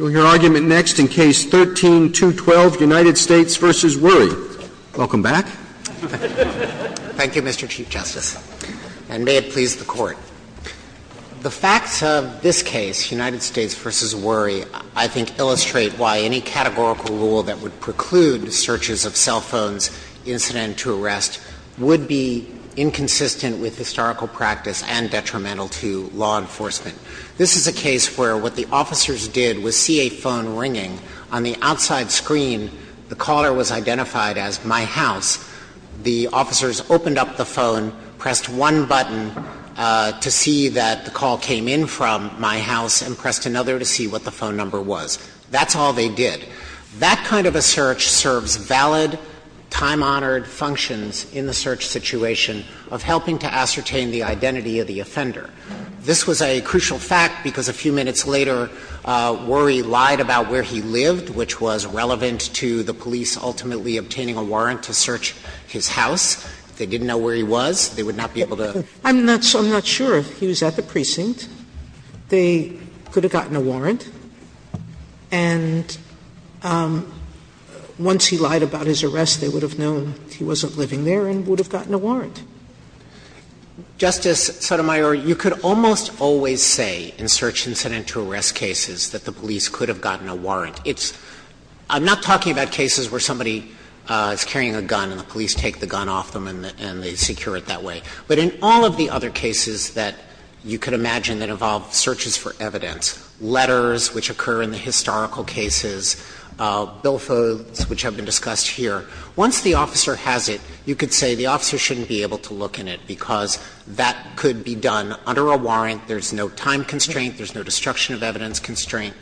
Roberts, and may it please the Court, the facts of this case, United States v. Wurie, I think illustrate why any categorical rule that would preclude searches of cell phones, incident to arrest, would be inconsistent with historical practice and detrimental to law enforcement. This is a case where what the United States did was see a phone ringing. On the outside screen, the caller was identified as My House. The officers opened up the phone, pressed one button to see that the call came in from My House, and pressed another to see what the phone number was. That's all they did. That kind of a search serves valid, time-honored functions in the search situation of helping to ascertain the identity of the offender. This was a crucial fact because a few minutes later, Wurie lied about where he lived, which was relevant to the police ultimately obtaining a warrant to search his house. If they didn't know where he was, they would not be able to. Sotomayor I'm not sure if he was at the precinct. They could have gotten a warrant. And once he lied about his arrest, they would have known he wasn't living there and would have gotten a warrant. Justice Sotomayor, you could almost always say in search incident to arrest cases that the police could have gotten a warrant. It's – I'm not talking about cases where somebody is carrying a gun and the police take the gun off them and they secure it that way. But in all of the other cases that you could imagine that involve searches for evidence, letters which occur in the historical cases, bill phones which have been discussed here, once the officer has it, you could say the officer shouldn't be able to look in it because that could be done under a warrant, there's no time constraint, there's no destruction of evidence constraint.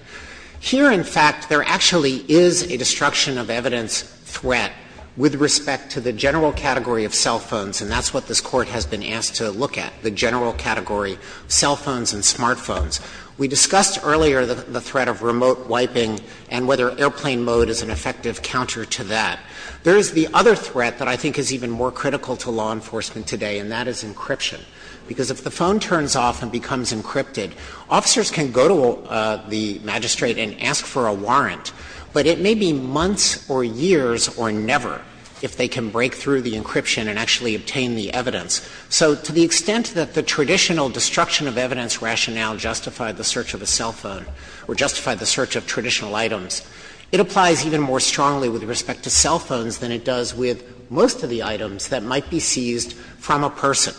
Here, in fact, there actually is a destruction of evidence threat with respect to the general category of cell phones, and that's what this Court has been asked to look at, the general category, cell phones and smartphones. We discussed earlier the threat of remote wiping and whether airplane mode is an effective counter to that. There is the other threat that I think is even more critical to law enforcement today, and that is encryption. Because if the phone turns off and becomes encrypted, officers can go to the magistrate and ask for a warrant, but it may be months or years or never if they can break through the encryption and actually obtain the evidence. So to the extent that the traditional destruction of evidence rationale justified the search of a cell phone or justified the search of traditional items, it applies even more strongly with respect to cell phones than it does with most of the items that might be seized from a person.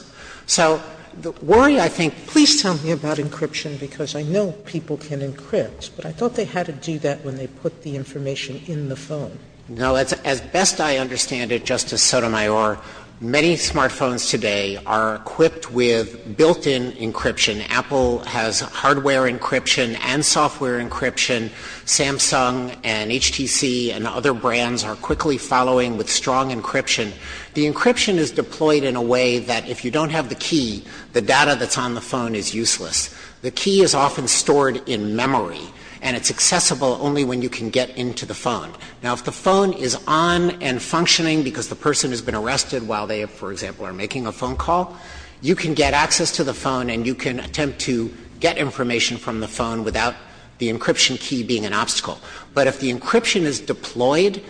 So the worry, I think, please tell me about encryption, because I know people can encrypt, but I thought they had to do that when they put the information in the phone. No. As best I understand it, Justice Sotomayor, many smartphones today are equipped with built-in encryption. Apple has hardware encryption and software encryption. Samsung and HTC and other brands are quickly following with strong encryption. The encryption is deployed in a way that if you don't have the key, the data that's on the phone is useless. The key is often stored in memory, and it's accessible only when you can get into the phone. Now, if the phone is on and functioning because the person has been arrested while they, for example, are making a phone call, you can get access to the phone and you can attempt to get information from the phone without the encryption key being an obstacle. But if the encryption is deployed,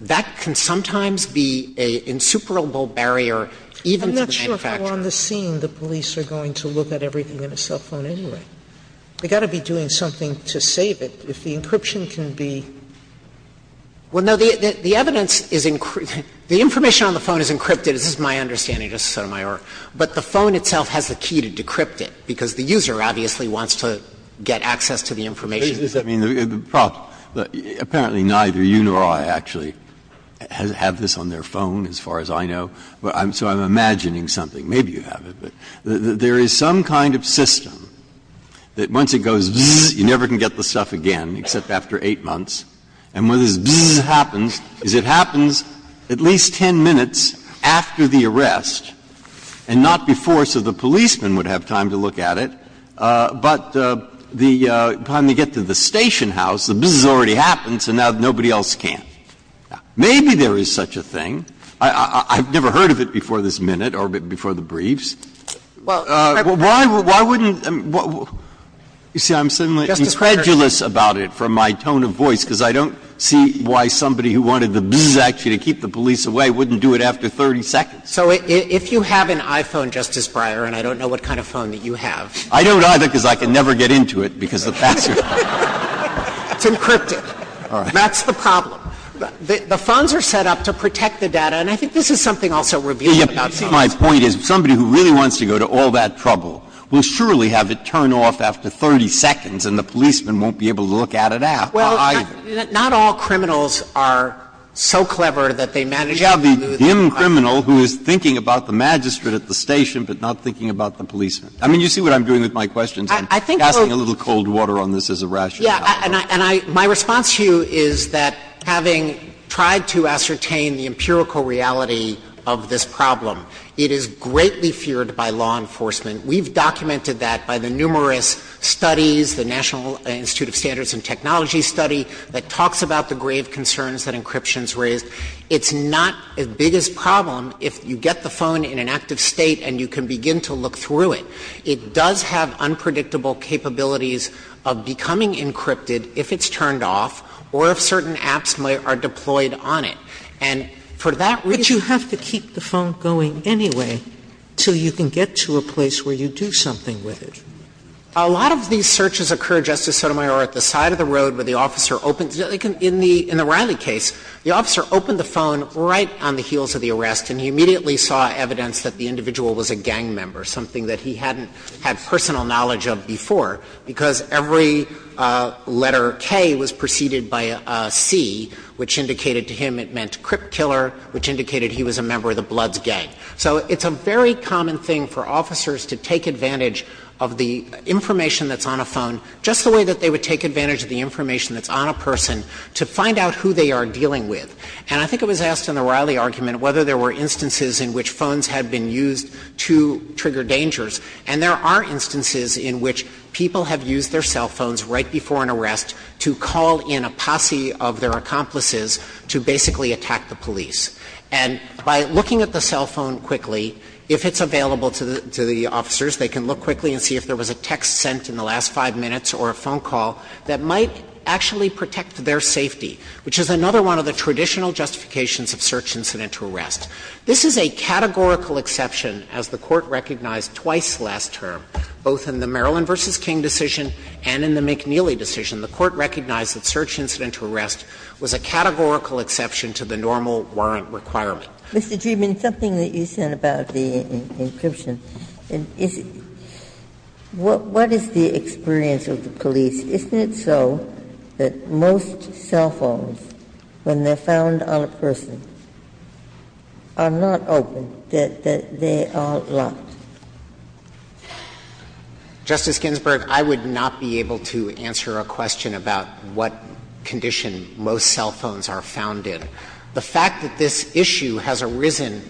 that can sometimes be an insuperable barrier even to the manufacturer. Sotomayor, I'm not sure if I'm on the scene the police are going to look at everything in a cell phone anyway. They've got to be doing something to save it. If the encryption can be ---- Well, no. The evidence is encrypted. The information on the phone is encrypted. This is my understanding, Justice Sotomayor. But the phone itself has the key to decrypt it because the user obviously wants to get access to the information. I mean, the problem, apparently neither you nor I actually have this on their phone as far as I know. So I'm imagining something. Maybe you have it. There is some kind of system that once it goes, you never can get the stuff again except after 8 months, and when this bzzz happens, it happens at least 10 minutes after the arrest and not before so the policeman would have time to look at it. But the time they get to the station house, the bzzz already happened, so now nobody else can. Maybe there is such a thing. I've never heard of it before this minute or before the briefs. Why wouldn't ---- you see, I'm somewhat incredulous about it from my tone of voice because I don't see why somebody who wanted the bzzz action to keep the police away wouldn't do it after 30 seconds. So if you have an iPhone, Justice Breyer, and I don't know what kind of phone that you have. I don't either because I can never get into it because the password. It's encrypted. All right. That's the problem. The phones are set up to protect the data, and I think this is something also revealing about CMS. But my point is somebody who really wants to go to all that trouble will surely have it turn off after 30 seconds and the policeman won't be able to look at it after either. Well, not all criminals are so clever that they manage to do the crime. You have the dim criminal who is thinking about the magistrate at the station but not thinking about the policeman. I mean, you see what I'm doing with my questions? I'm casting a little cold water on this as a rationale. Yeah. And I my response to you is that having tried to ascertain the empirical reality of this problem, it is greatly feared by law enforcement. We've documented that by the numerous studies, the National Institute of Standards and Technology study that talks about the grave concerns that encryption has raised. It's not as big a problem if you get the phone in an active state and you can begin to look through it. It does have unpredictable capabilities of becoming encrypted if it's turned off or if certain apps are deployed on it. And for that reason you have to keep the phone going anyway until you can get to a place where you do something with it. A lot of these searches occur, Justice Sotomayor, at the side of the road where the officer opens. In the Riley case, the officer opened the phone right on the heels of the arrest and he immediately saw evidence that the individual was a gang member, something that he hadn't had personal knowledge of before, because every letter K was preceded by a C, which indicated to him it meant crip killer, which indicated he was a member of the Bloods gang. So it's a very common thing for officers to take advantage of the information that's on a phone just the way that they would take advantage of the information that's on a person to find out who they are dealing with. And I think it was asked in the Riley argument whether there were instances in which phones had been used to trigger dangers, and there are instances in which people have used their cell phones right before an arrest to call in a posse of their accomplices to basically attack the police. And by looking at the cell phone quickly, if it's available to the officers, they can look quickly and see if there was a text sent in the last 5 minutes or a phone call that might actually protect their safety, which is another one of the traditional justifications of search incident to arrest. This is a categorical exception, as the Court recognized twice last term, both in the McNeely decision and in the McNeely decision. The Court recognized that search incident to arrest was a categorical exception to the normal warrant requirement. Ginsburg. Mr. Dreeben, something that you said about the encryption, is what is the experience of the police? Isn't it so that most cell phones, when they're found on a person, are not open, that they are locked? Justice Ginsburg, I would not be able to answer a question about what condition most cell phones are found in. The fact that this issue has arisen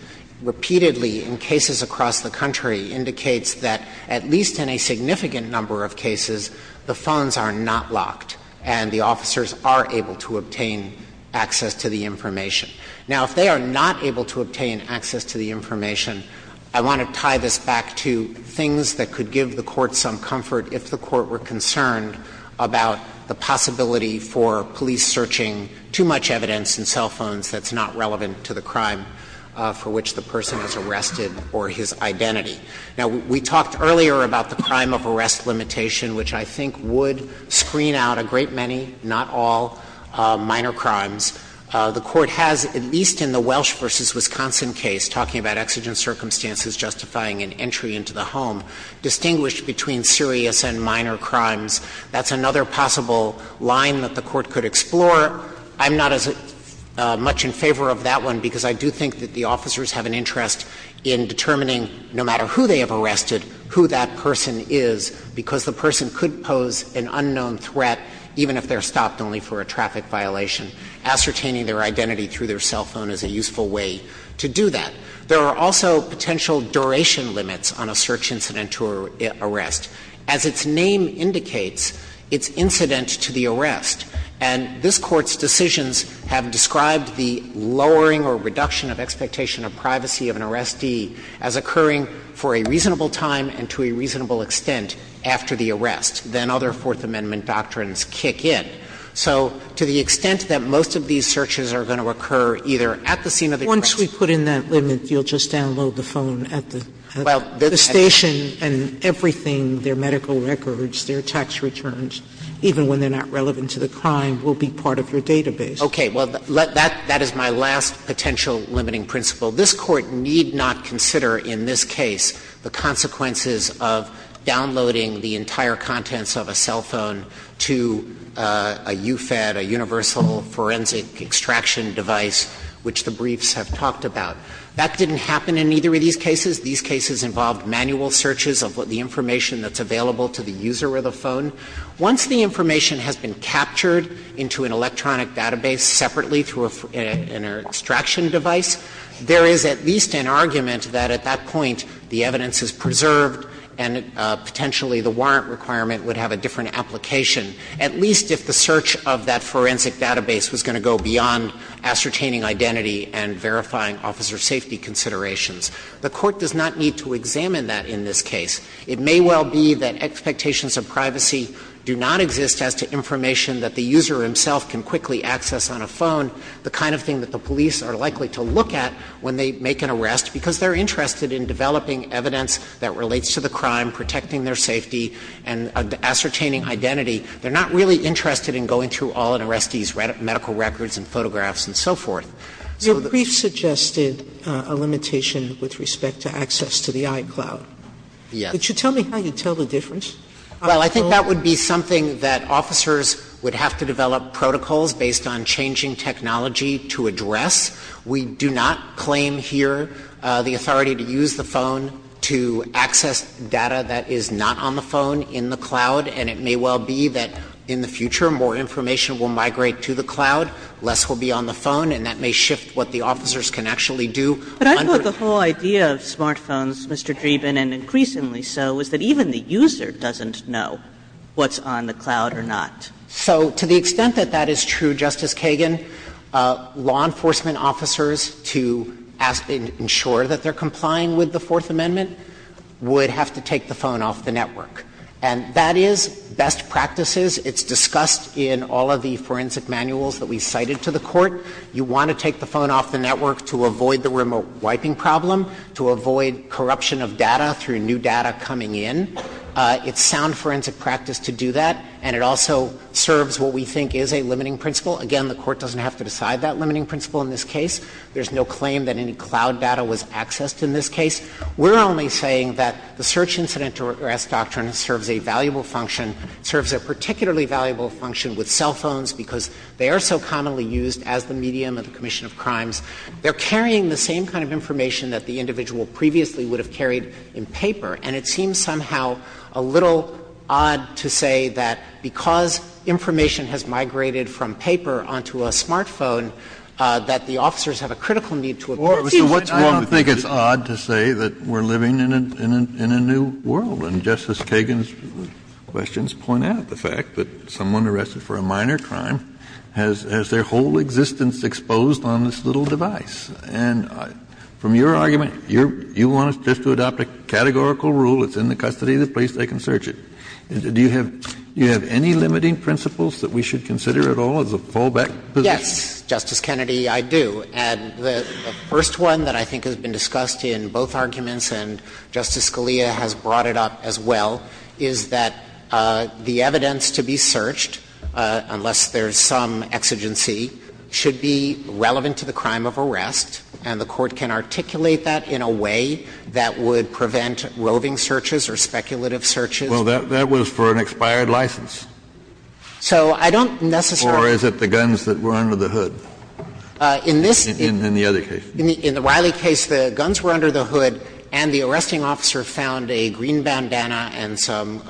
repeatedly in cases across the country indicates that, at least in a significant number of cases, the phones are not locked and the officers are able to obtain access to the information. Now, if they are not able to obtain access to the information, I want to tie this back to things that could give the Court some comfort if the Court were concerned about the possibility for police searching too much evidence in cell phones that's not relevant to the crime for which the person is arrested or his identity. Now, we talked earlier about the crime of arrest limitation, which I think would screen out a great many, not all, minor crimes. The Court has, at least in the Welsh v. Wisconsin case, talking about exigent circumstances justifying an entry into the home, distinguished between serious and minor crimes. That's another possible line that the Court could explore. I'm not as much in favor of that one because I do think that the officers have an interest in determining, no matter who they have arrested, who that person is, because the person could pose an unknown threat even if they're stopped only for a traffic violation. Ascertaining their identity through their cell phone is a useful way to do that. There are also potential duration limits on a search incident to arrest. As its name indicates, it's incident to the arrest, and this Court's decisions have described the lowering or reduction of expectation of privacy of an arrestee as occurring for a reasonable time and to a reasonable extent after the arrest. Then other Fourth Amendment doctrines kick in. So to the extent that most of these searches are going to occur either at the scene of the arrest. Sotomayor, Once we put in that limit, you'll just download the phone at the station and everything, their medical records, their tax returns, even when they're not relevant to the crime, will be part of your database. Dreeben Okay. Well, that is my last potential limiting principle. This Court need not consider in this case the consequences of downloading the entire contents of a cell phone to a UFED, a universal forensic extraction device, which the briefs have talked about. That didn't happen in either of these cases. These cases involved manual searches of the information that's available to the user of the phone. Once the information has been captured into an electronic database separately through an extraction device, there is at least an argument that at that point the warrant requirement would have a different application, at least if the search of that forensic database was going to go beyond ascertaining identity and verifying officer safety considerations. The Court does not need to examine that in this case. It may well be that expectations of privacy do not exist as to information that the user himself can quickly access on a phone, the kind of thing that the police are likely to look at when they make an arrest, because they're interested in developing evidence that relates to the crime, protecting their safety, and ascertaining identity. They're not really interested in going through all an arrestee's medical records and photographs and so forth. So the briefs suggested a limitation with respect to access to the iCloud. Yes. Could you tell me how you tell the difference? Well, I think that would be something that officers would have to develop protocols based on changing technology to address. We do not claim here the authority to use the phone to access data that is not on the phone in the cloud, and it may well be that in the future more information will migrate to the cloud, less will be on the phone, and that may shift what the officers can actually do. But I thought the whole idea of smartphones, Mr. Dreeben, and increasingly so, is that even the user doesn't know what's on the cloud or not. So to the extent that that is true, Justice Kagan, law enforcement officers, to ensure that they're complying with the Fourth Amendment, would have to take the phone off the network. And that is best practices. It's discussed in all of the forensic manuals that we cited to the Court. You want to take the phone off the network to avoid the remote wiping problem, to avoid corruption of data through new data coming in. It's sound forensic practice to do that, and it also serves what we think is a limiting principle. Again, the Court doesn't have to decide that limiting principle in this case. There's no claim that any cloud data was accessed in this case. We're only saying that the search incident arrest doctrine serves a valuable function, serves a particularly valuable function with cell phones because they are so commonly used as the medium of the commission of crimes. They're carrying the same kind of information that the individual previously would have carried in paper. And it seems somehow a little odd to say that because information has migrated from paper onto a smartphone, that the officers have a critical need to appreciate what's going to be used. Kennedy, I don't think it's odd to say that we're living in a new world. And Justice Kagan's questions point out the fact that someone arrested for a minor crime has their whole existence exposed on this little device. And from your argument, you want us just to adopt a categorical rule, it's in the custody of the police, they can search it. Do you have any limiting principles that we should consider at all as a fallback position? Yes, Justice Kennedy, I do. And the first one that I think has been discussed in both arguments, and Justice Scalia has brought it up as well, is that the evidence to be searched, unless there's some exigency, should be relevant to the crime of arrest, and the Court can articulate that in a way that would prevent roving searches or speculative searches. Well, that was for an expired license. So I don't necessarily Or is it the guns that were under the hood? In this case. In the other case. In the Wiley case, the guns were under the hood, and the arresting officer found a green bandana and some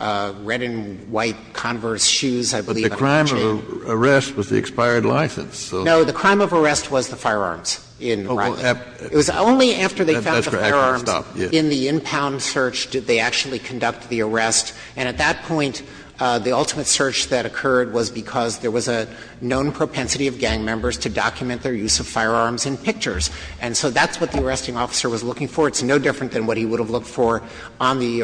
red and white Converse shoes, I believe. The crime of arrest was the expired license. No, the crime of arrest was the firearms in Wiley. It was only after they found the firearms in the in-pound search did they actually conduct the arrest. And at that point, the ultimate search that occurred was because there was a known propensity of gang members to document their use of firearms in pictures. And so that's what the arresting officer was looking for. It's no different than what he would have looked for on the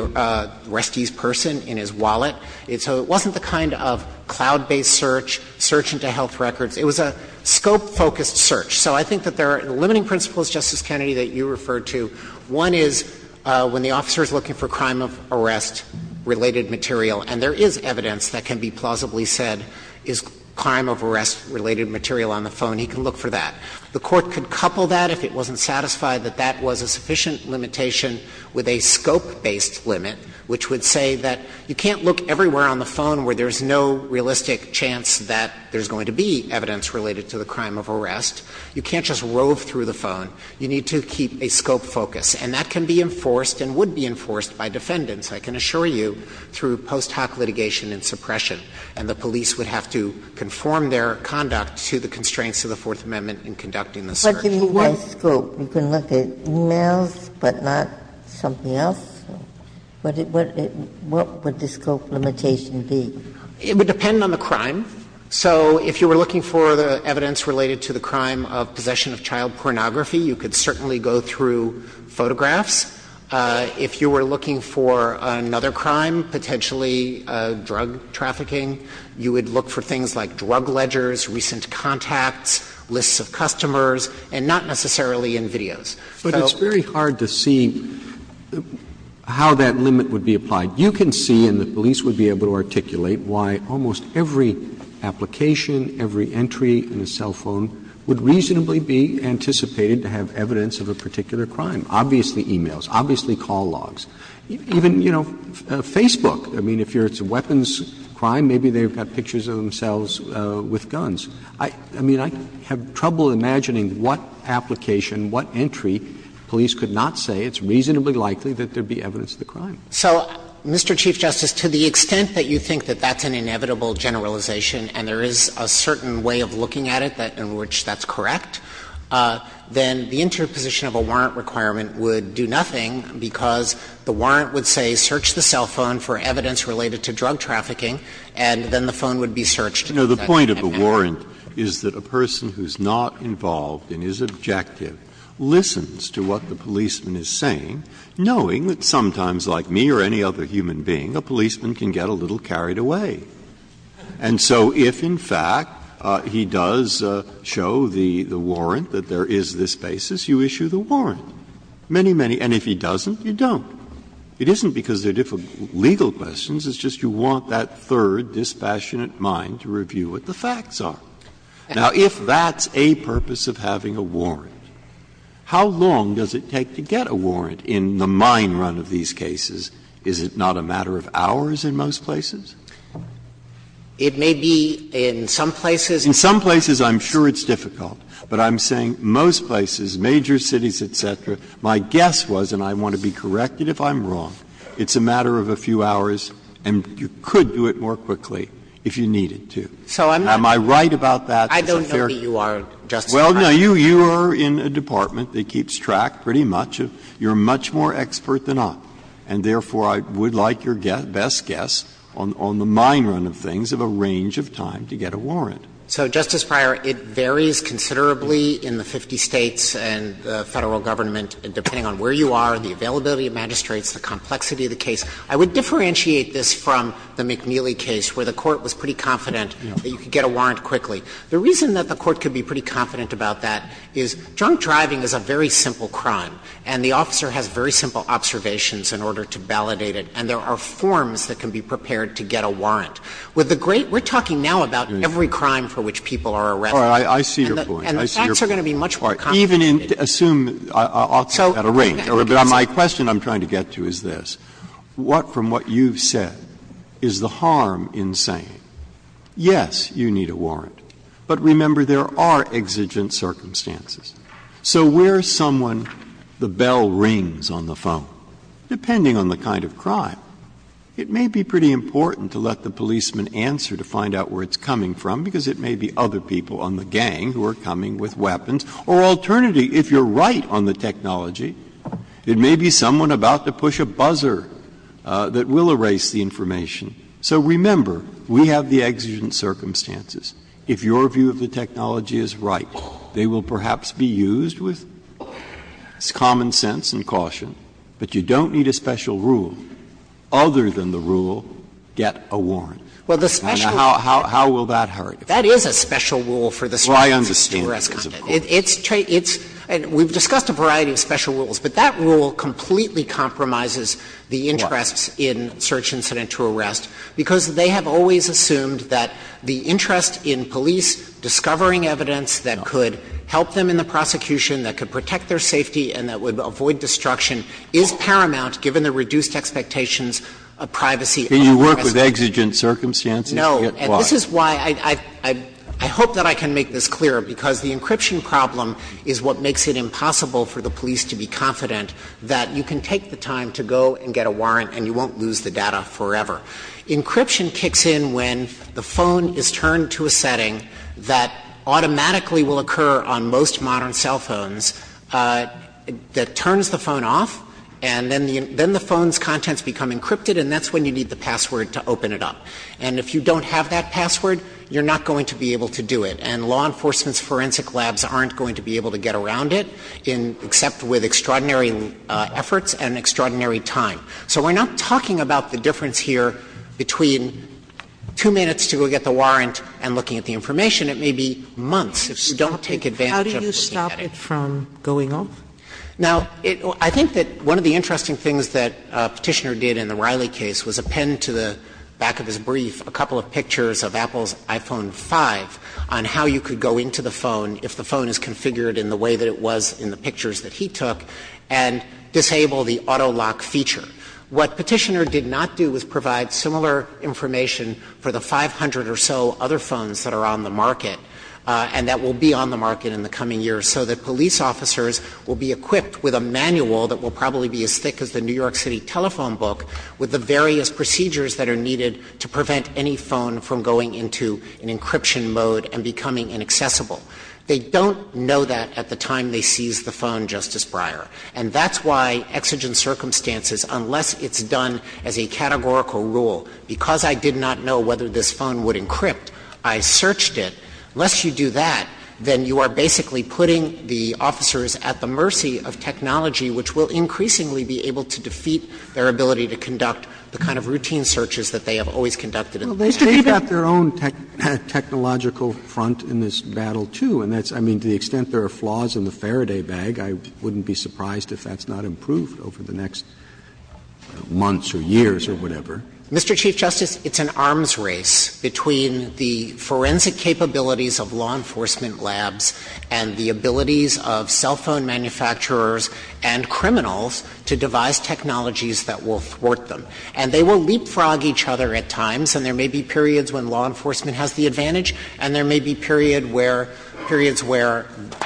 resty's person in his wallet. So it wasn't the kind of cloud-based search, search into health records. It was a scope-focused search. So I think that there are limiting principles, Justice Kennedy, that you referred to. One is when the officer is looking for crime of arrest-related material, and there is evidence that can be plausibly said is crime of arrest-related material on the phone, he can look for that. The Court could couple that if it wasn't satisfied that that was a sufficient limitation with a scope-based limit, which would say that you can't look everywhere on the phone where there's no realistic chance that there's going to be evidence related to the crime of arrest. You can't just rove through the phone. You need to keep a scope focus. And that can be enforced and would be enforced by defendants, I can assure you, through post hoc litigation and suppression. And the police would have to conform their conduct to the constraints of the Fourth Amendment in conducting the search. Ginsburg-Miller You can look at scope. You can look at e-mails, but not something else. What would the scope limitation be? Dreeben It would depend on the crime. So if you were looking for evidence related to the crime of possession of child pornography, you could certainly go through photographs. If you were looking for another crime, potentially drug trafficking, you would look for things like drug ledgers, recent contacts, lists of customers, and not necessarily in videos. Roberts But it's very hard to see how that limit would be applied. You can see, and the police would be able to articulate, why almost every application, every entry in a cell phone would reasonably be anticipated to have evidence of a particular crime, obviously e-mails, obviously call logs. Even, you know, Facebook, I mean, if it's a weapons crime, maybe they've got pictures of themselves with guns. I mean, I have trouble imagining what application, what entry police could not say it's reasonably likely that there would be evidence of the crime. Dreeben So, Mr. Chief Justice, to the extent that you think that that's an inevitable generalization and there is a certain way of looking at it in which that's correct, then the interposition of a warrant requirement would do nothing, because the warrant would say search the cell phone for evidence related to drug trafficking, and then the phone would be searched. Breyer No, the point of the warrant is that a person who's not involved in his objective listens to what the policeman is saying, knowing that sometimes, like me or any other human being, a policeman can get a little carried away. And so if, in fact, he does show the warrant, that there is this basis, you issue the warrant. Many, many, and if he doesn't, you don't. It isn't because they're difficult legal questions. It's just you want that third dispassionate mind to review what the facts are. Now, if that's a purpose of having a warrant, how long does it take to get a warrant in the mine run of these cases? Is it not a matter of hours in most places? Dreeben It may be in some places. Breyer In some places, I'm sure it's difficult. But I'm saying most places, major cities, et cetera, my guess was, and I want to be corrected if I'm wrong, it's a matter of a few hours, and you could do it more quickly if you needed to. Am I right about that? Dreeben I don't know who you are, Justice Breyer. Breyer Well, no, you are in a department that keeps track, pretty much, of you're much more expert than I am. And therefore, I would like your best guess on the mine run of things of a range of time to get a warrant. Dreeben So, Justice Breyer, it varies considerably in the 50 States and the Federal Government, depending on where you are, the availability of magistrates, the complexity of the case. I would differentiate this from the McNeely case, where the Court was pretty confident that you could get a warrant quickly. The reason that the Court could be pretty confident about that is drunk driving is a very simple crime, and the officer has very simple observations in order to validate it, and there are forms that can be prepared to get a warrant. With the great we're talking now about every crime for which people are arrested. Breyer I see your point. I see your point. Dreeben And the facts are going to be much more complicated. Breyer Even in, assume, I'll take that at a rate. My question I'm trying to get to is this. What, from what you've said, is the harm in saying, yes, you need a warrant, but remember, there are exigent circumstances. So where someone, the bell rings on the phone, depending on the kind of crime, it may be pretty important to let the policeman answer to find out where it's coming from, because it may be other people on the gang who are coming with weapons. Or alternatively, if you're right on the technology, it may be someone about to push a buzzer that will erase the information. So remember, we have the exigent circumstances. If your view of the technology is right, they will perhaps be used with common sense and caution, but you don't need a special rule. Other than the rule, get a warrant. And how will that hurt? Dreeben That is a special rule for the search and search and arrest conduct. Breyer I understand that, of course. Dreeben It's true. It's we've discussed a variety of special rules, but that rule completely compromises the interests in search incident to arrest, because they have always assumed that the interest in police discovering evidence that could help them in the prosecution, that could protect their safety, and that would avoid destruction is paramount given the reduced expectations of privacy. Breyer Can you work with exigent circumstances? Dreeben No. And this is why I hope that I can make this clearer, because the encryption problem is what makes it impossible for the police to be confident that you can take the time to go and get a warrant and you won't lose the data forever. Encryption kicks in when the phone is turned to a setting that automatically will occur on most modern cell phones that turns the phone off, and then the phone's password to open it up. And if you don't have that password, you're not going to be able to do it. And law enforcement's forensic labs aren't going to be able to get around it in – except with extraordinary efforts and extraordinary time. So we're not talking about the difference here between two minutes to go get the warrant and looking at the information. It may be months if you don't take advantage of what you're getting. Sotomayor How do you stop it from going off? Dreeben Now, I think that one of the interesting things that Petitioner did in the Riley case was append to the back of his brief a couple of pictures of Apple's iPhone 5 on how you could go into the phone if the phone is configured in the way that it was in the pictures that he took, and disable the auto lock feature. What Petitioner did not do was provide similar information for the 500 or so other phones that are on the market, and that will be on the market in the coming years, so that police officers will be equipped with a manual that will probably be as thick as the New York City telephone book, with the various procedures that are needed to prevent any phone from going into an encryption mode and becoming inaccessible. They don't know that at the time they seize the phone, Justice Breyer, and that's why exigent circumstances, unless it's done as a categorical rule, because I did not know whether this phone would encrypt, I searched it, unless you do that, then you are basically putting the officers at the mercy of technology which will increasingly be able to defeat their ability to conduct the kind of routine searches that they have always conducted. Roberts. They've got their own technological front in this battle, too, and that's, I mean, to the extent there are flaws in the Faraday bag, I wouldn't be surprised if that's not improved over the next months or years or whatever. Mr. Chief Justice, it's an arms race between the forensic capabilities of law enforcement labs and the abilities of cell phone manufacturers and criminals to devise technologies that will thwart them. And they will leapfrog each other at times, and there may be periods when law enforcement has the advantage, and there may be periods where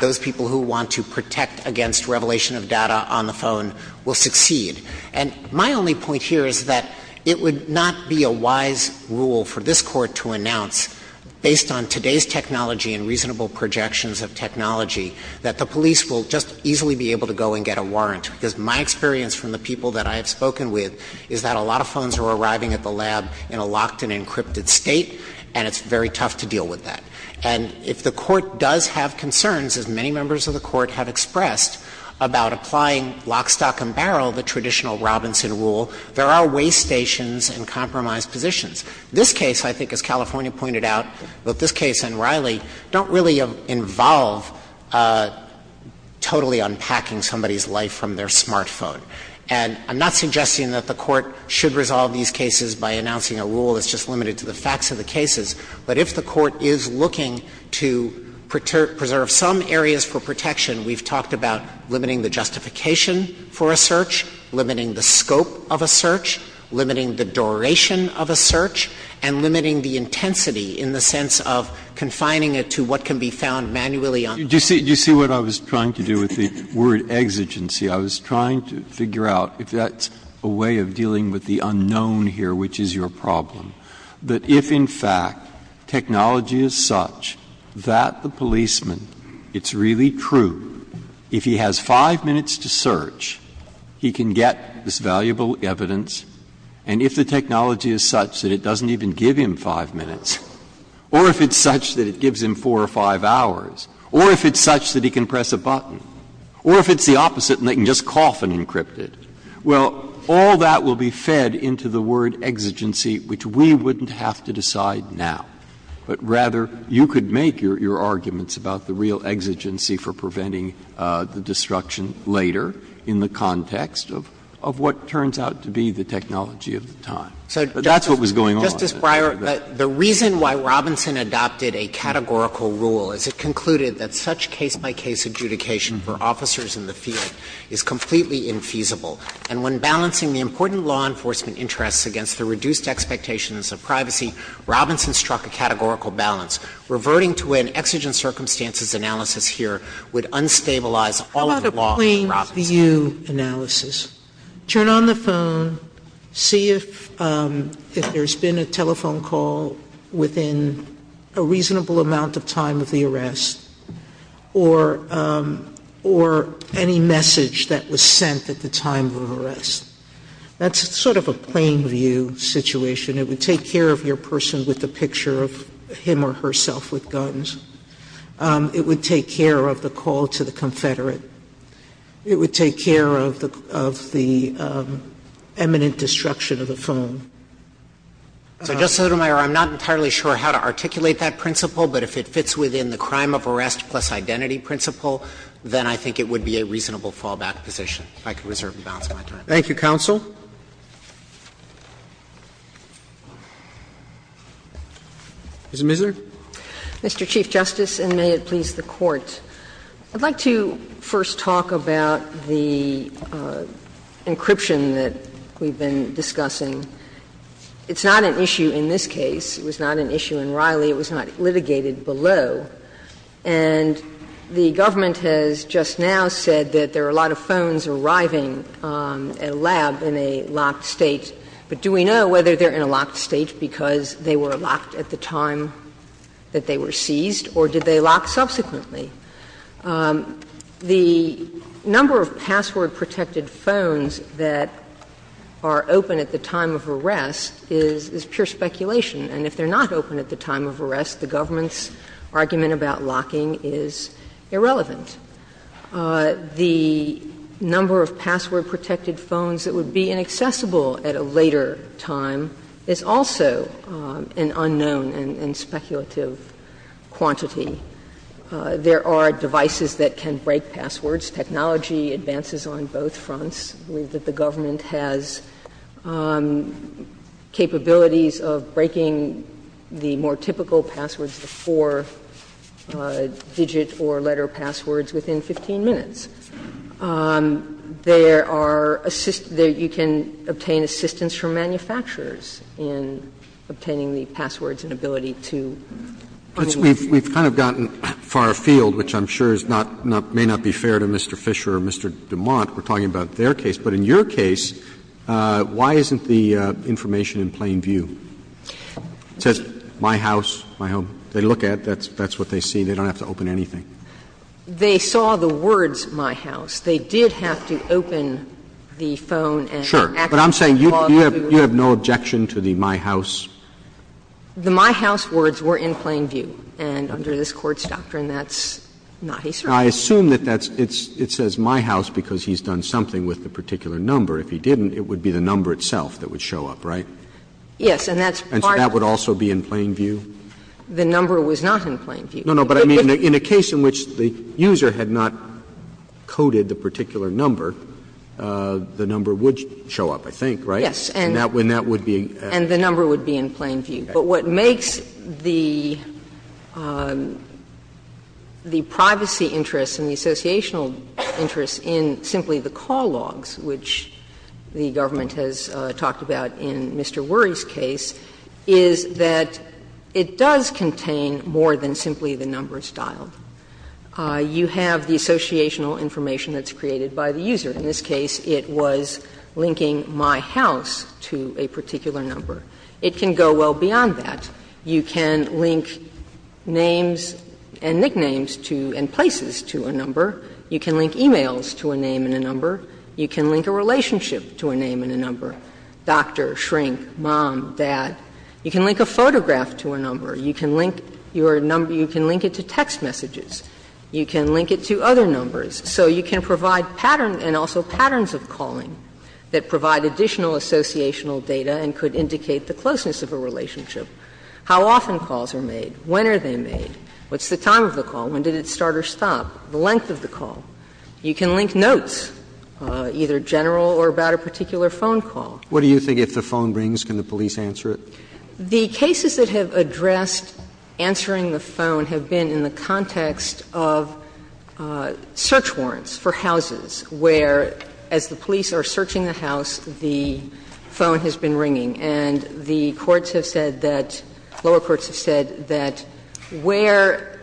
those people who want to protect against revelation of data on the phone will succeed. And my only point here is that it would not be a wise rule for this Court to announce, based on today's technology and reasonable projections of technology, that the police will just easily be able to go and get a warrant. Because my experience from the people that I have spoken with is that a lot of phones are arriving at the lab in a locked and encrypted state, and it's very tough to deal with that. And if the Court does have concerns, as many members of the Court have expressed, about applying lock, stock and barrel, the traditional Robinson rule, there are way stations and compromised positions. This case, I think, as California pointed out, both this case and Riley, don't really involve totally unpacking somebody's life from their smartphone. And I'm not suggesting that the Court should resolve these cases by announcing a rule that's just limited to the facts of the cases, but if the Court is looking to preserve some areas for protection, we've talked about limiting the justification for a search, limiting the scope of a search, limiting the duration of a search, and limiting the intensity in the sense of confining it to what can be found manually on the phone. Breyer. Do you see what I was trying to do with the word exigency? I was trying to figure out if that's a way of dealing with the unknown here, which is your problem, that if, in fact, technology is such that the policeman, it's really true, if he has five minutes to search, he can get this valuable evidence, and if the doesn't even give him five minutes, or if it's such that it gives him four or five hours, or if it's such that he can press a button, or if it's the opposite and they can just cough and encrypt it, well, all that will be fed into the word exigency, which we wouldn't have to decide now. But rather, you could make your arguments about the real exigency for preventing the destruction later in the context of what turns out to be the technology of the time. But that's what was going on. Dreeben. Justice Breyer, the reason why Robinson adopted a categorical rule is it concluded that such case-by-case adjudication for officers in the field is completely infeasible. And when balancing the important law enforcement interests against the reduced expectations of privacy, Robinson struck a categorical balance, reverting to an exigent view analysis. Turn on the phone. See if there's been a telephone call within a reasonable amount of time of the arrest, or any message that was sent at the time of arrest. That's sort of a plain view situation. It would take care of your person with the picture of him or herself with guns. It would take care of the call to the confederate. It would take care of the eminent destruction of the phone. So, Justice Sotomayor, I'm not entirely sure how to articulate that principle, but if it fits within the crime of arrest plus identity principle, then I think it would be a reasonable fallback position, if I could reserve the balance of my time. Roberts. Thank you, counsel. Ms. Misner. Mr. Chief Justice, and may it please the Court. I'd like to first talk about the encryption that we've been discussing. It's not an issue in this case. It was not an issue in Riley. It was not litigated below. And the government has just now said that there are a lot of phones arriving at a lab in a locked state, but do we know whether they're in a locked state because they were locked at the time that they were seized, or did they lock subsequently? The number of password-protected phones that are open at the time of arrest is pure speculation, and if they're not open at the time of arrest, the government's argument about locking is irrelevant. The number of password-protected phones that would be inaccessible at a later time is also an unknown and speculative quantity. There are devices that can break passwords. Technology advances on both fronts. I believe that the government has capabilities of breaking the more typical passwords, the four-digit or letter passwords, within 15 minutes. There are assist — you can obtain assistance from manufacturers in obtaining the passwords and ability to communicate. Roberts. Roberts. We've kind of gotten far afield, which I'm sure is not — may not be fair to Mr. Fisher or Mr. DeMont. We're talking about their case. But in your case, why isn't the information in plain view? It says, my house, my home. They look at it, that's what they see. They don't have to open anything. They saw the words, my house. They did have to open the phone and act upon the law to do it. Sure. But I'm saying you have no objection to the my house? The my house words were in plain view. And under this Court's doctrine, that's not historical. I assume that that's — it says my house because he's done something with the particular number. If he didn't, it would be the number itself that would show up, right? Yes. And that's part of the case. And so that would also be in plain view? The number was not in plain view. No, no. But I mean, in a case in which the user had not coded the particular number, the number would show up, I think, right? Yes. And that would be in plain view. But what makes the privacy interest and the associational interest in simply the call logs, which the government has talked about in Mr. Worry's case, is that it does contain more than simply the numbers dialed. You have the associational information that's created by the user. In this case, it was linking my house to a particular number. It can go well beyond that. You can link names and nicknames to — and places to a number. You can link e-mails to a name and a number. You can link a relationship to a name and a number, doctor, shrink, mom, dad. You can link a photograph to a number. You can link your number — you can link it to text messages. You can link it to other numbers. So you can provide pattern and also patterns of calling that provide additional associational data and could indicate the closeness of a relationship. How often calls are made? When are they made? What's the time of the call? When did it start or stop? The length of the call. You can link notes, either general or about a particular phone call. What do you think, if the phone rings, can the police answer it? The cases that have addressed answering the phone have been in the context of search warrants for houses where, as the police are searching the house, the phone has been ringing. And the courts have said that — lower courts have said that where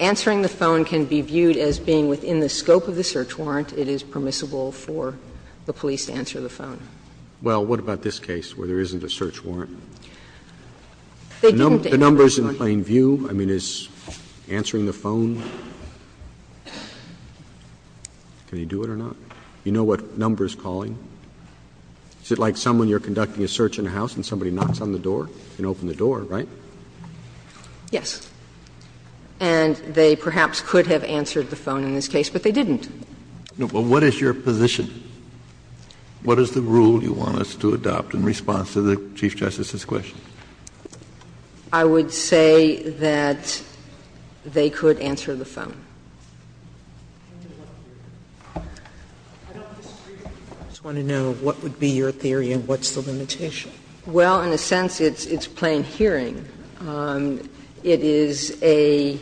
answering the phone can be viewed as being within the scope of the search warrant, it is permissible for the police to answer the phone. Well, what about this case where there isn't a search warrant? The number is in plain view. I mean, is answering the phone — can you do it or not? You know what number is calling? Is it like someone you're conducting a search in a house and somebody knocks on the door? You can open the door, right? Yes. And they perhaps could have answered the phone in this case, but they didn't. Well, what is your position? What is the rule you want us to adopt in response to the Chief Justice's question? I would say that they could answer the phone. I don't disagree. I just want to know what would be your theory and what's the limitation? Well, in a sense, it's plain hearing. It is an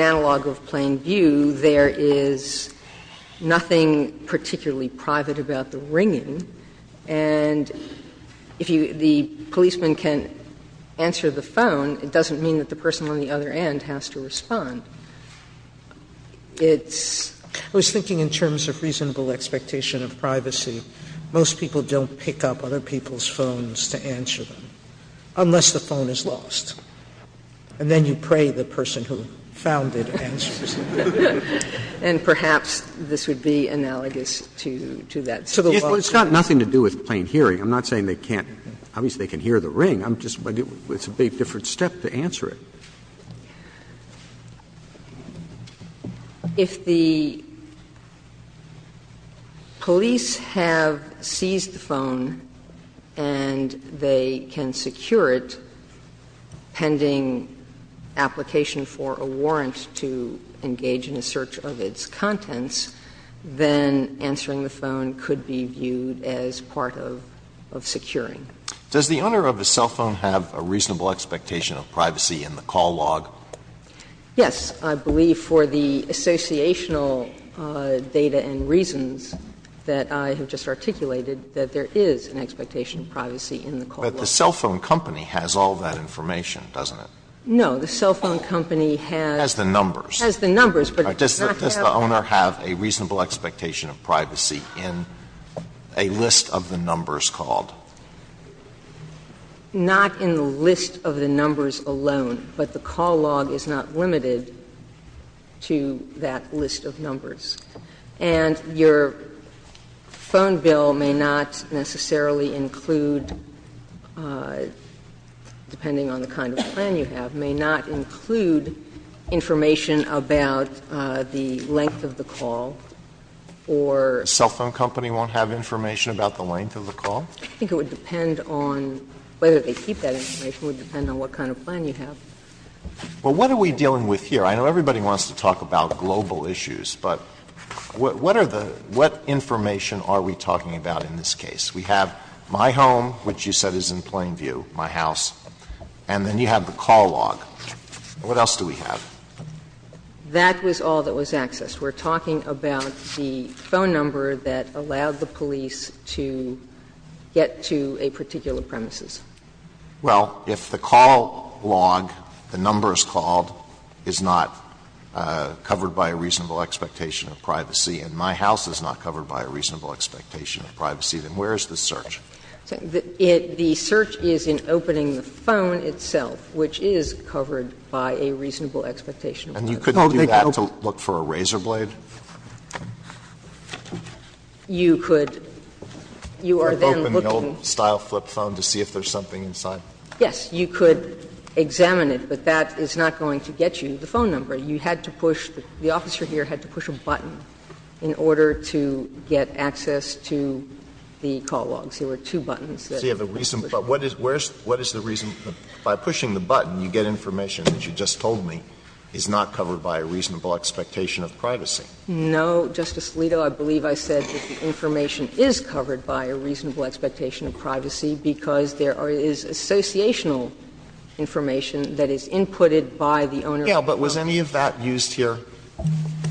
analog of plain view. There is nothing particularly private about the ringing. And if the policeman can't answer the phone, it doesn't mean that the person on the other end has to respond. It's — I was thinking in terms of reasonable expectation of privacy, most people don't pick up other people's phones to answer them, unless the phone is lost. And then you pray the person who found it answers it. And perhaps this would be analogous to that. So the law says that. It's got nothing to do with plain hearing. I'm not saying they can't. Obviously, they can hear the ring. I'm just — it's a big different step to answer it. If the police have seized the phone and they can secure it pending application for a warrant to engage in a search of its contents, then answering the phone could be viewed as part of securing. Does the owner of the cell phone have a reasonable expectation of privacy in the call log? Yes. I believe for the associational data and reasons that I have just articulated that there is an expectation of privacy in the call log. But the cell phone company has all that information, doesn't it? No. The cell phone company has the numbers. Has the numbers, but it does not have that. Does the owner have a reasonable expectation of privacy in a list of the numbers called? Not in the list of the numbers alone. But the call log is not limited to that list of numbers. And your phone bill may not necessarily include, depending on the kind of plan you have, may not include information about the length of the call or — The cell phone company won't have information about the length of the call? I think it would depend on whether they keep that information. It would depend on what kind of plan you have. Well, what are we dealing with here? I know everybody wants to talk about global issues, but what are the — what information are we talking about in this case? We have my home, which you said is in plain view, my house. And then you have the call log. What else do we have? That was all that was accessed. We're talking about the phone number that allowed the police to get to a particular premises. Well, if the call log, the numbers called, is not covered by a reasonable expectation of privacy and my house is not covered by a reasonable expectation of privacy, then where is the search? The search is in opening the phone itself, which is covered by a reasonable expectation of privacy. And you couldn't do that to look for a razor blade? You could. You are then looking. Open the old-style flip phone to see if there's something inside. Yes. You could examine it, but that is not going to get you the phone number. You had to push — the officer here had to push a button in order to get access to the call log. So there were two buttons. So you have a reason. But what is the reason? By pushing the button, you get information that you just told me is not covered by a reasonable expectation of privacy. No, Justice Alito. I believe I said that the information is covered by a reasonable expectation of privacy because there is associational information that is inputted by the owner. Yes, but was any of that used here?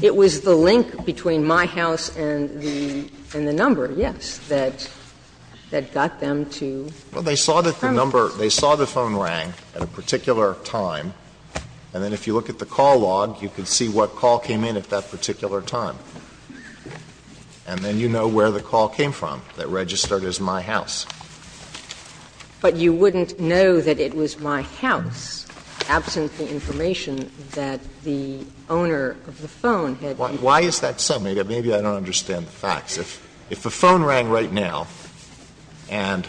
It was the link between my house and the number, yes. But you wouldn't know that it was my house, absent the information that the owner of the phone had given you. Why is that so? Maybe I don't understand the facts. of the phone had given you. Why is that so? If you go right now and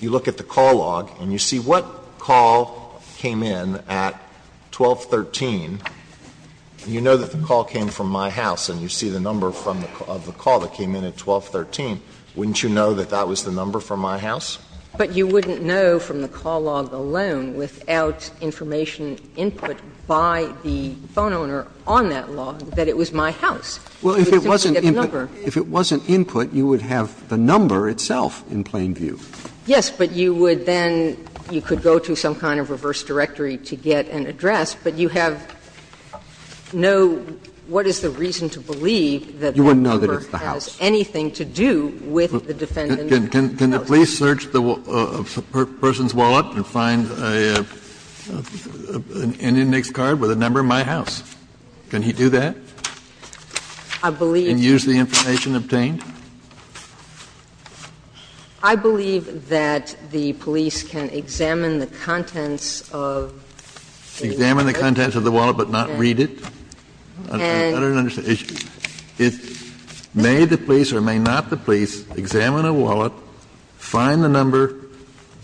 you look at the call log and you see what call came in at 1213, and you know that the call came from my house and you see the number of the call that came in at 1213, wouldn't you know that that was the number from my house? But you wouldn't know from the call log alone without information input by the phone you would have the number itself in plain view. Yes, but you would then you could go to some kind of reverse directory to get an address, but you have no what is the reason to believe that that number has anything to do with the defendant's house. Can the police search a person's wallet and find an index card with a number my house? Can he do that? I believe. And use the information obtained? I believe that the police can examine the contents of the wallet. Examine the contents of the wallet but not read it? I don't understand. May the police or may not the police examine a wallet, find the number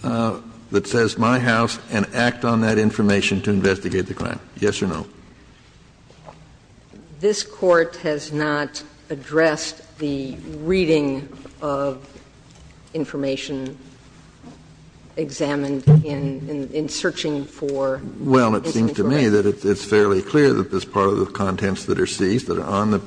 that says my house, and act on that information to investigate the crime, yes or no? This Court has not addressed the reading of information examined in searching for information. Well, it seems to me that it's fairly clear that it's part of the contents that are seized that are on the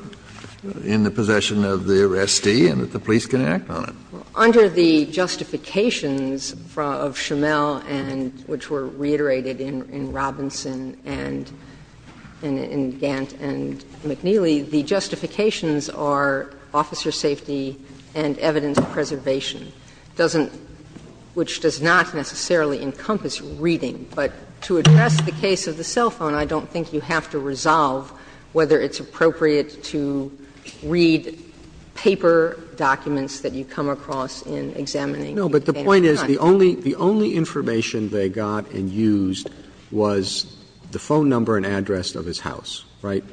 in the possession of the arrestee and that the police can act on it. Under the justifications of Schimel and which were reiterated in Robinson and in Gant and McNeely, the justifications are officer safety and evidence preservation, which does not necessarily encompass reading. But to address the case of the cell phone, I don't think you have to resolve whether it's appropriate to read paper documents that you come across in examining the parents' house. No, but the point is the only information they got and used was the phone number and address of his house, right?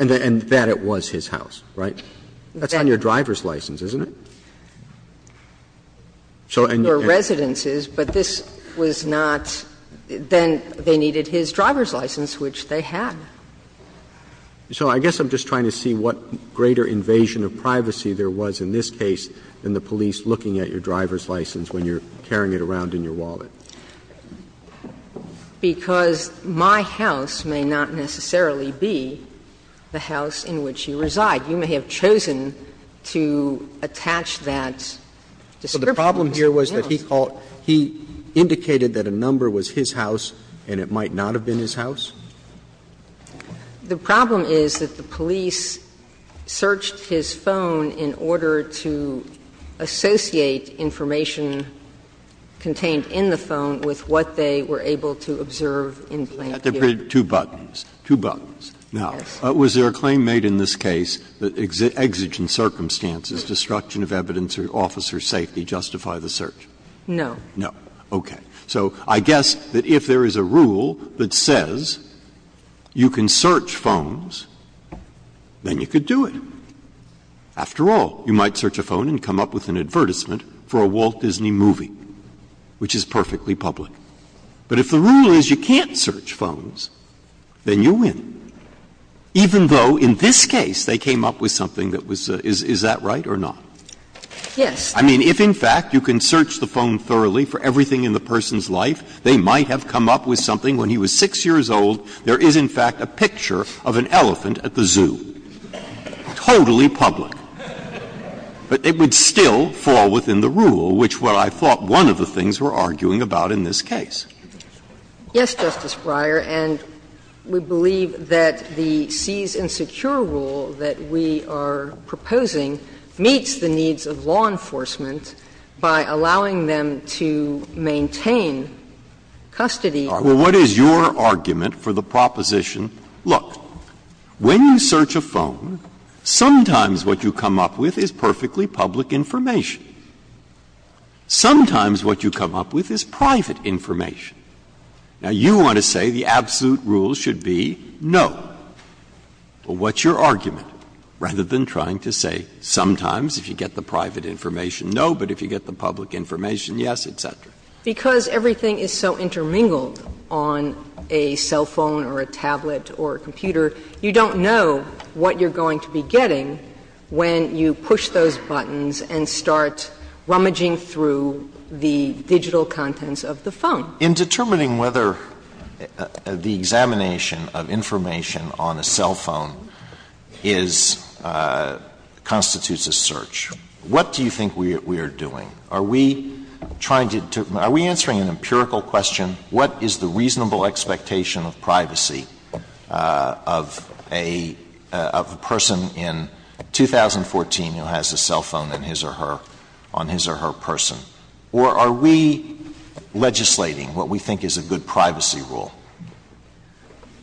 And that it was his house, right? That's on your driver's license, isn't it? So and your residence is, but this was not then they needed his driver's license, which they had. So I guess I'm just trying to see what greater invasion of privacy there was in this case than the police looking at your driver's license when you're carrying it around in your wallet. Because my house may not necessarily be the house in which you reside. You may have chosen to attach that description to someone else. So the problem here was that he called he indicated that a number was his house and it might not have been his house? The problem is that the police searched his phone in order to associate information contained in the phone with what they were able to observe in Blankview. Breyer, two buttons, two buttons. Now, was there a claim made in this case that exigent circumstances, destruction of evidence or officer's safety justify the search? No. No. Okay. So I guess that if there is a rule that says you can search phones, then you could do it. After all, you might search a phone and come up with an advertisement for a Walt Disney movie, which is perfectly public. But if the rule is you can't search phones, then you win, even though in this case they came up with something that was the — is that right or not? Yes. I mean, if in fact you can search the phone thoroughly for everything in the person's life, they might have come up with something when he was 6 years old, there is in fact a picture of an elephant at the zoo. Totally public. But it would still fall within the rule, which was what I thought one of the things were arguing about in this case. Yes, Justice Breyer. And we believe that the seize and secure rule that we are proposing meets the needs of law enforcement by allowing them to maintain custody. Well, what is your argument for the proposition, look, when you search a phone, sometimes what you come up with is perfectly public information. Sometimes what you come up with is private information. Now, you want to say the absolute rule should be no. Well, what's your argument, rather than trying to say sometimes if you get the private information, no, but if you get the public information, yes, et cetera? Because everything is so intermingled on a cell phone or a tablet or a computer, you don't know what you're going to be getting when you push those buttons and start rummaging through the digital contents of the phone. In determining whether the examination of information on a cell phone is – constitutes a search, what do you think we are doing? Are we trying to – are we answering an empirical question, what is the reasonable expectation of privacy of a person in 2014 who has a cell phone in his or her – on his or her person? Or are we legislating what we think is a good privacy rule?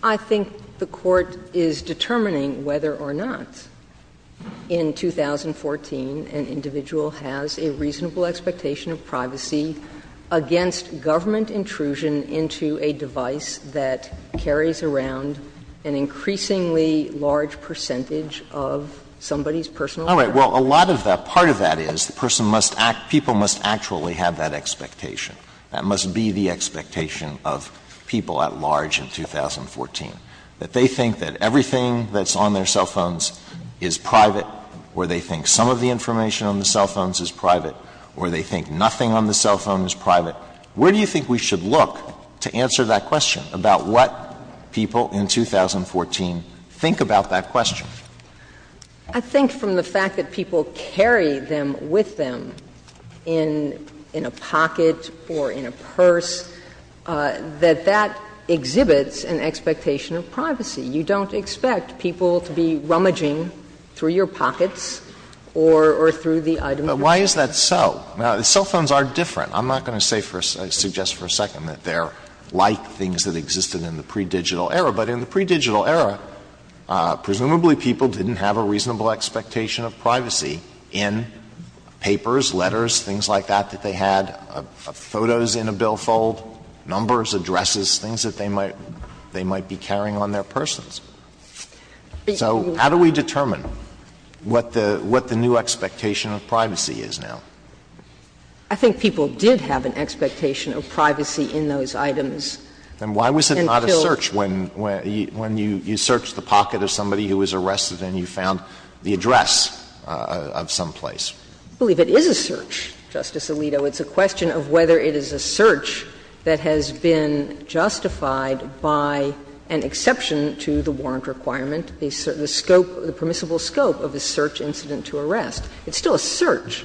I think the Court is determining whether or not in 2014 an individual has a reasonable expectation of privacy against government intrusion into a device that carries around an increasingly large percentage of somebody's personal privacy. All right. Well, a lot of that – part of that is the person must act – people must actually have that expectation. That must be the expectation of people at large in 2014, that they think that everything that's on their cell phones is private, or they think some of the information on the cell phones is private, or they think nothing on the cell phone is private. Where do you think we should look to answer that question about what people in 2014 think about that question? I think from the fact that people carry them with them in a pocket or in a purse, that that exhibits an expectation of privacy. You don't expect people to be rummaging through your pockets or through the item you're carrying. But why is that so? Cell phones are different. I'm not going to say for a – suggest for a second that they're like things that existed in the pre-digital era. But in the pre-digital era, presumably people didn't have a reasonable expectation of privacy in papers, letters, things like that, that they had, photos in a billfold, numbers, addresses, things that they might – they might be carrying on their persons. So how do we determine what the – what the new expectation of privacy is now? I think people did have an expectation of privacy in those items until— Alito, when you search the pocket of somebody who was arrested and you found the address of some place. I believe it is a search, Justice Alito. It's a question of whether it is a search that has been justified by an exception to the warrant requirement, the scope, the permissible scope of the search incident to arrest. It's still a search.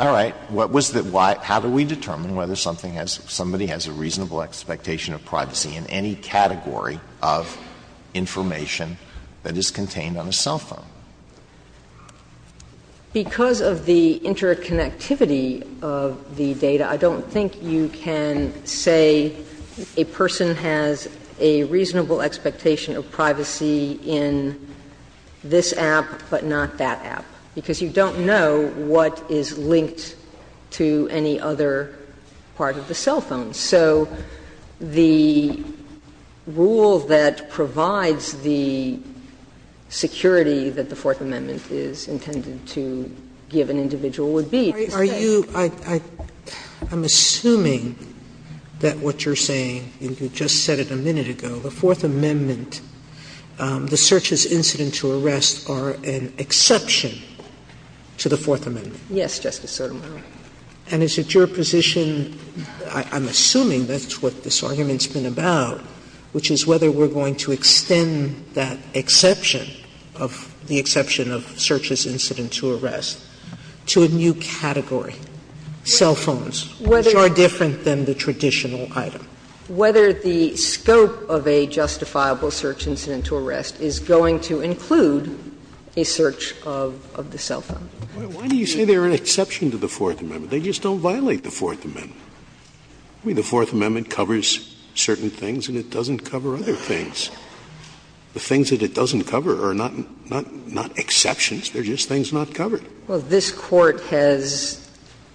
All right. What was the – how do we determine whether something has – somebody has a reasonable expectation of privacy in any category of information that is contained on a cell phone? Because of the interconnectivity of the data, I don't think you can say a person has a reasonable expectation of privacy in this app, but not that app, because you don't know what is linked to any other part of the cell phone. So the rule that provides the security that the Fourth Amendment is intended to give an individual would be— Are you – I'm assuming that what you're saying, and you just said it a minute ago, the Fourth Amendment, the search as incident to arrest are an exception to the Fourth Amendment. Yes, Justice Sotomayor. And is it your position – I'm assuming that's what this argument's been about, which is whether we're going to extend that exception of the exception of search as incident to arrest to a new category, cell phones, which are different than the traditional item. Whether the scope of a justifiable search incident to arrest is going to include a search of the cell phone. Why do you say they're an exception to the Fourth Amendment? They just don't violate the Fourth Amendment. I mean, the Fourth Amendment covers certain things and it doesn't cover other things. The things that it doesn't cover are not exceptions, they're just things not covered. Well, this Court has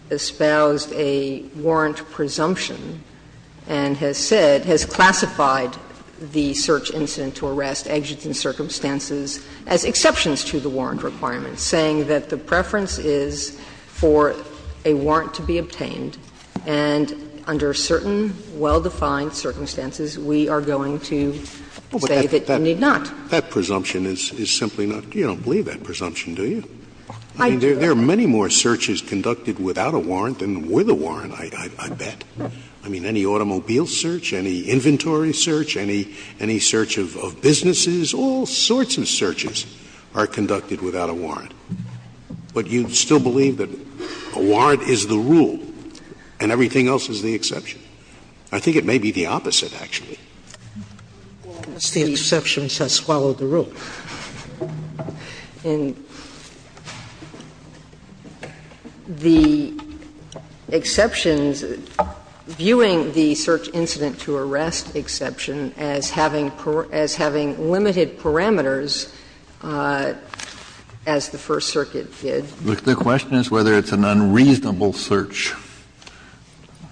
espoused a warrant presumption and has said, has classified the search incident to arrest, exigent circumstances, as exceptions to the warrant requirements, saying that the preference is for a warrant to be obtained and under certain well-defined circumstances, we are going to say that you need not. That presumption is simply not – you don't believe that presumption, do you? I do. I mean, there are many more searches conducted without a warrant than with a warrant, I bet. I mean, any automobile search, any inventory search, any search of businesses, all sorts of searches are conducted without a warrant. But you still believe that a warrant is the rule and everything else is the exception. I think it may be the opposite, actually. Well, it's the exceptions that swallow the rule. And the exceptions – viewing the search incident to arrest exception as having limited parameters, as the First Circuit did. The question is whether it's an unreasonable search.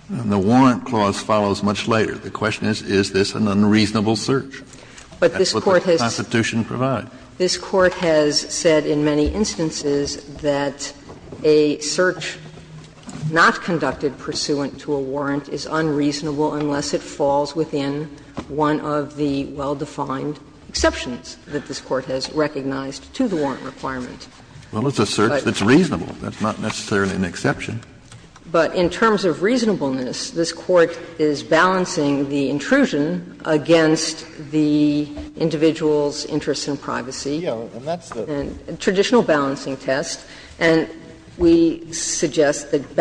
And the warrant clause follows much later. The question is, is this an unreasonable search? That's what the Constitution provides. But this Court has said in many instances that a search not conducted pursuant to a warrant is unreasonable unless it falls within one of the well-defined exceptions that this Court has recognized to the warrant requirement. Well, it's a search that's reasonable. That's not necessarily an exception. But in terms of reasonableness, this Court is balancing the intrusion against the individual's interests in privacy. Yes. And that's the – And traditional balancing test. And we suggest that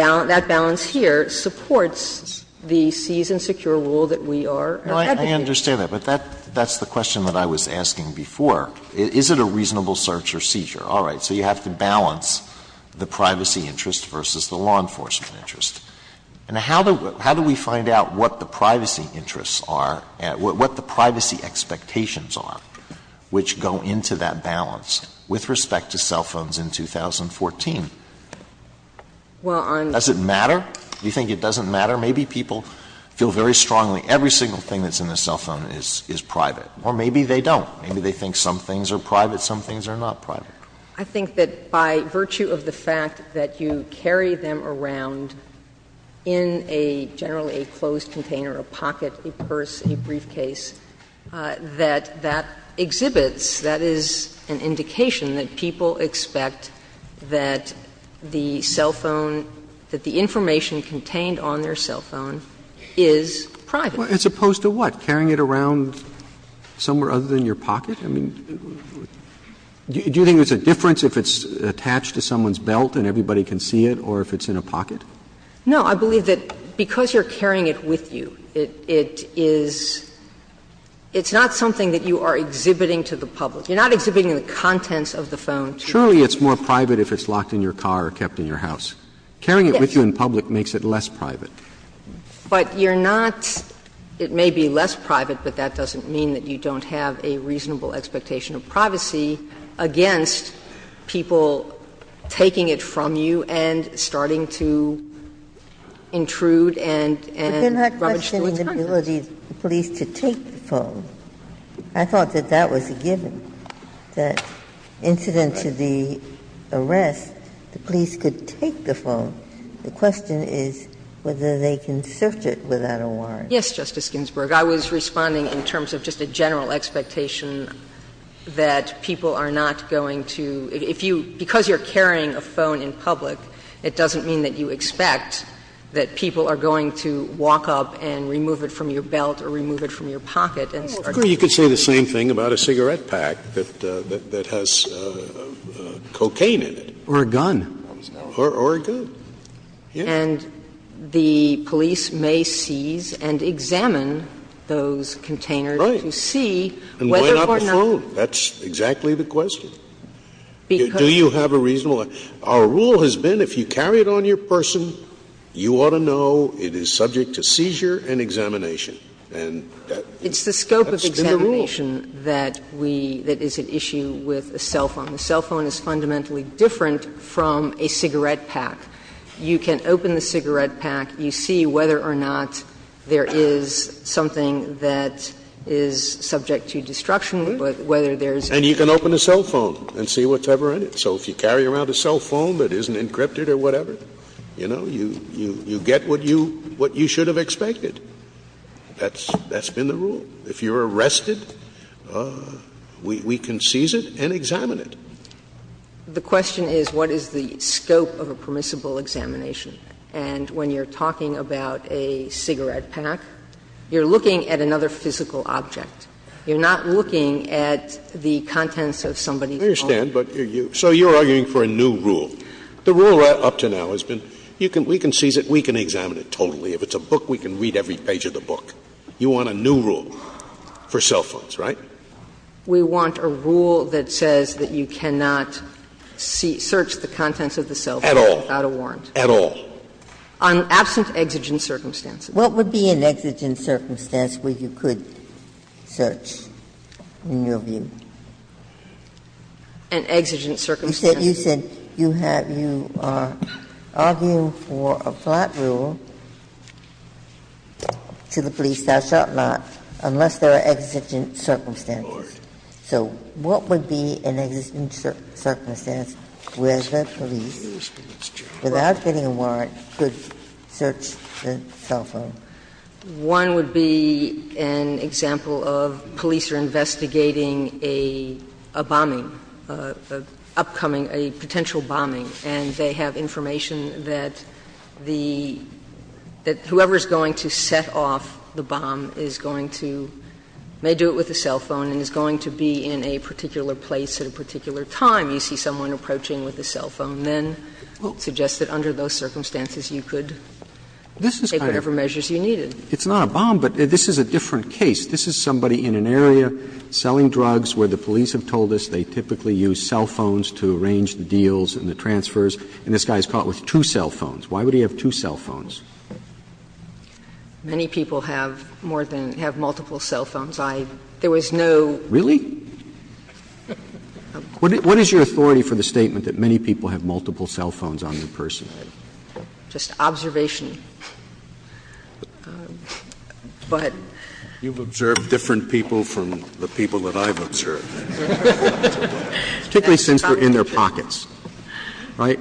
balance here supports the seize and secure rule that we are advocating. No, I understand that. But that's the question that I was asking before. Is it a reasonable search or seizure? All right. So you have to balance the privacy interest versus the law enforcement interest. And how do we find out what the privacy interests are, what the privacy expectations are, which go into that balance with respect to cell phones in 2014? Does it matter? Do you think it doesn't matter? Maybe people feel very strongly every single thing that's in the cell phone is private. Or maybe they don't. Maybe they think some things are private, some things are not private. I think that by virtue of the fact that you carry them around in a – generally a closed container, a pocket, a purse, a briefcase, that that exhibits, that is an indication that people expect that the cell phone, that the information contained on their cell phone is private. Well, as opposed to what? Carrying it around somewhere other than your pocket? I mean, do you think there's a difference if it's attached to someone's belt and everybody can see it, or if it's in a pocket? No. I believe that because you're carrying it with you, it is – it's not something that you are exhibiting to the public. You're not exhibiting the contents of the phone to the public. Surely it's more private if it's locked in your car or kept in your house. Yes. Carrying it with you in public makes it less private. But you're not – it may be less private, but that doesn't mean that you don't have a reasonable expectation of privacy against people taking it from you and starting to intrude and – and rubbish to its contents. But you're not questioning the ability of the police to take the phone. I thought that that was a given, that incident to the arrest, the police could take the phone. The question is whether they can search it without a warrant. Yes, Justice Ginsburg. I was responding in terms of just a general expectation that people are not going to – if you – because you're carrying a phone in public, it doesn't mean that you expect that people are going to walk up and remove it from your belt or remove it from your pocket and start – Well, it's clear you could say the same thing about a cigarette pack that has cocaine in it. Or a gun. Or a gun. And the police may seize and examine those containers to see whether or not – Right. And why not the phone. That's exactly the question. Do you have a reasonable – our rule has been if you carry it on your person, you ought to know it is subject to seizure and examination. And that's been the rule. It's the scope of examination that we – that is at issue with a cell phone. A cell phone is fundamentally different from a cigarette pack. You can open the cigarette pack. You see whether or not there is something that is subject to destruction. But whether there is – And you can open a cell phone and see what's ever in it. So if you carry around a cell phone that isn't encrypted or whatever, you know, you get what you – what you should have expected. That's been the rule. If you're arrested, we can seize it and examine it. The question is what is the scope of a permissible examination. And when you're talking about a cigarette pack, you're looking at another physical object. You're not looking at the contents of somebody's phone. I understand, but you – so you're arguing for a new rule. The rule up to now has been you can – we can seize it, we can examine it totally. If it's a book, we can read every page of the book. You want a new rule for cell phones, right? We want a rule that says that you cannot search the contents of the cell phone without a warrant. At all. At all. On absent exigent circumstances. What would be an exigent circumstance where you could search, in your view? An exigent circumstance. You said you have – you are arguing for a flat rule to the police, thou shalt not, unless there are exigent circumstances. So what would be an exigent circumstance where the police, without getting a warrant, could search the cell phone? One would be an example of police are investigating a bombing, an upcoming, a potential bombing, and they have information that the – that whoever is going to set off the bomb is going to – may do it with a cell phone and is going to be in a particular place at a particular time. And then, if you have a bomb, you see someone approaching with a cell phone, then suggest that under those circumstances you could take whatever measures you needed. It's not a bomb, but this is a different case. This is somebody in an area selling drugs where the police have told us they typically use cell phones to arrange the deals and the transfers, and this guy is caught with two cell phones. Why would he have two cell phones? Many people have more than – have multiple cell phones. I – there was no – Really? What is your authority for the statement that many people have multiple cell phones on in person? Just observation. But you've observed different people from the people that I've observed. Particularly since they're in their pockets, right?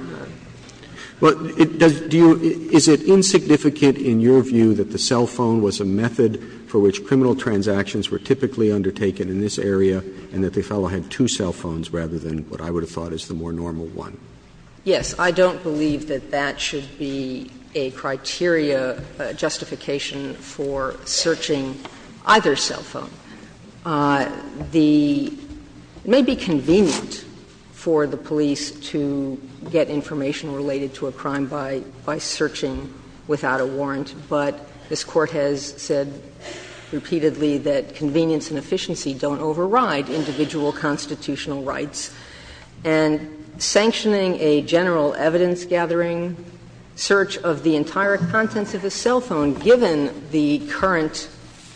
But it does – do you – is it insignificant in your view that the cell phone was a method for which criminal transactions were typically undertaken in this area and that the fellow had two cell phones rather than what I would have thought is the more normal one? Yes. I don't believe that that should be a criteria justification for searching either cell phone. The – it may be convenient for the police to get information related to a crime by searching without a warrant, but this Court has said repeatedly that convenience and efficiency don't override individual constitutional rights. And sanctioning a general evidence-gathering search of the entire contents of a cell phone, given the current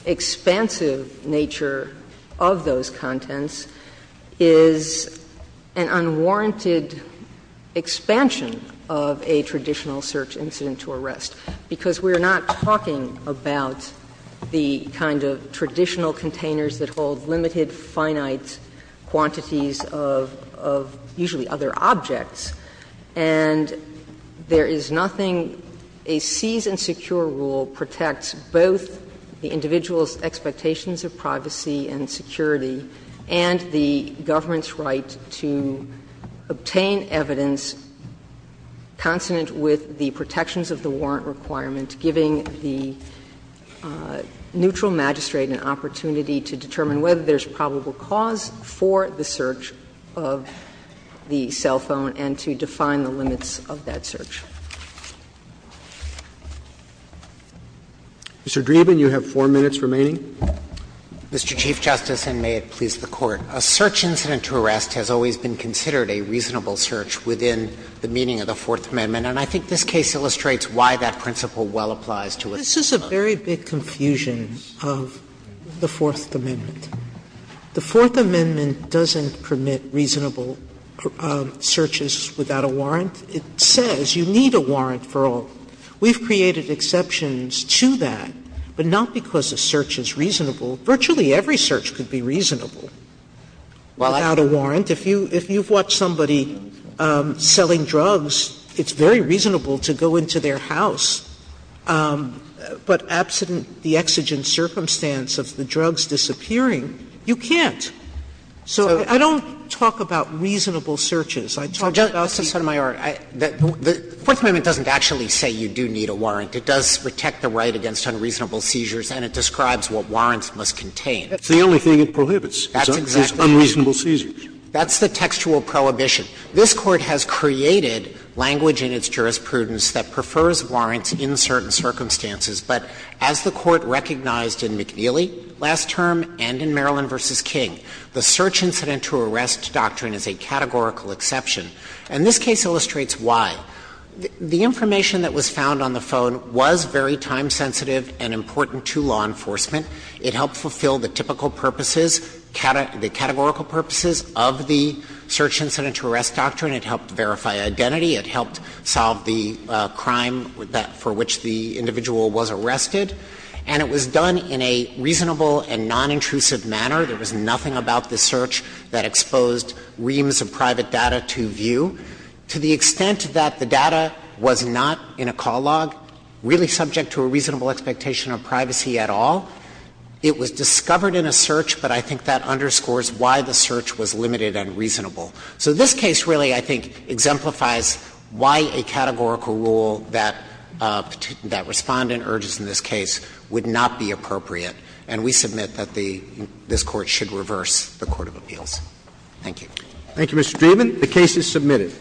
expansive nature of those contents, is an unwarranted expansion of a traditional search incident to arrest, because we are not talking about the kind of traditional containers that hold limited finite quantities of usually other objects, and there is nothing – a seize and secure rule protects both the individual's expectations of privacy and security and the government's right to obtain evidence consonant with the protections of the warrant requirement, giving the neutral magistrate an opportunity to determine whether there is probable cause for the search of the cell phone and to define the limits of that search. Mr. Dreeben, you have four minutes remaining. Mr. Chief Justice, and may it please the Court. A search incident to arrest has always been considered a reasonable search within the meaning of the Fourth Amendment, and I think this case illustrates why that principle well applies to it. This is a very big confusion of the Fourth Amendment. The Fourth Amendment doesn't permit reasonable searches without a warrant. It says you need a warrant for all. We've created exceptions to that, but not because a search is reasonable. Virtually every search could be reasonable without a warrant. If you've watched somebody selling drugs, it's very reasonable to go into their house, but absent the exigent circumstance of the drugs disappearing, you can't. So I don't talk about reasonable searches. I talk about the art. The Fourth Amendment doesn't actually say you do need a warrant. It does protect the right against unreasonable seizures, and it describes what warrants must contain. Scalia, That's the only thing it prohibits is unreasonable seizures. Dreeben, That's the textual prohibition. This Court has created language in its jurisprudence that prefers warrants in certain circumstances, but as the Court recognized in McNeely last term and in Maryland v. King, the search incident to arrest doctrine is a categorical exception. And this case illustrates why. The information that was found on the phone was very time sensitive and important to law enforcement. It helped fulfill the typical purposes, the categorical purposes of the search incident to arrest doctrine. It helped verify identity. It helped solve the crime for which the individual was arrested. And it was done in a reasonable and nonintrusive manner. There was nothing about the search that exposed reams of private data to view. To the extent that the data was not in a call log, really subject to a reasonable expectation of privacy at all, it was discovered in a search, but I think that underscores why the search was limited and reasonable. So this case really, I think, exemplifies why a categorical rule that Respondent urges in this case would not be appropriate. And we submit that the – this Court should reverse the court of appeals. Thank you. Roberts. Thank you, Mr. Dreeben. The case is submitted.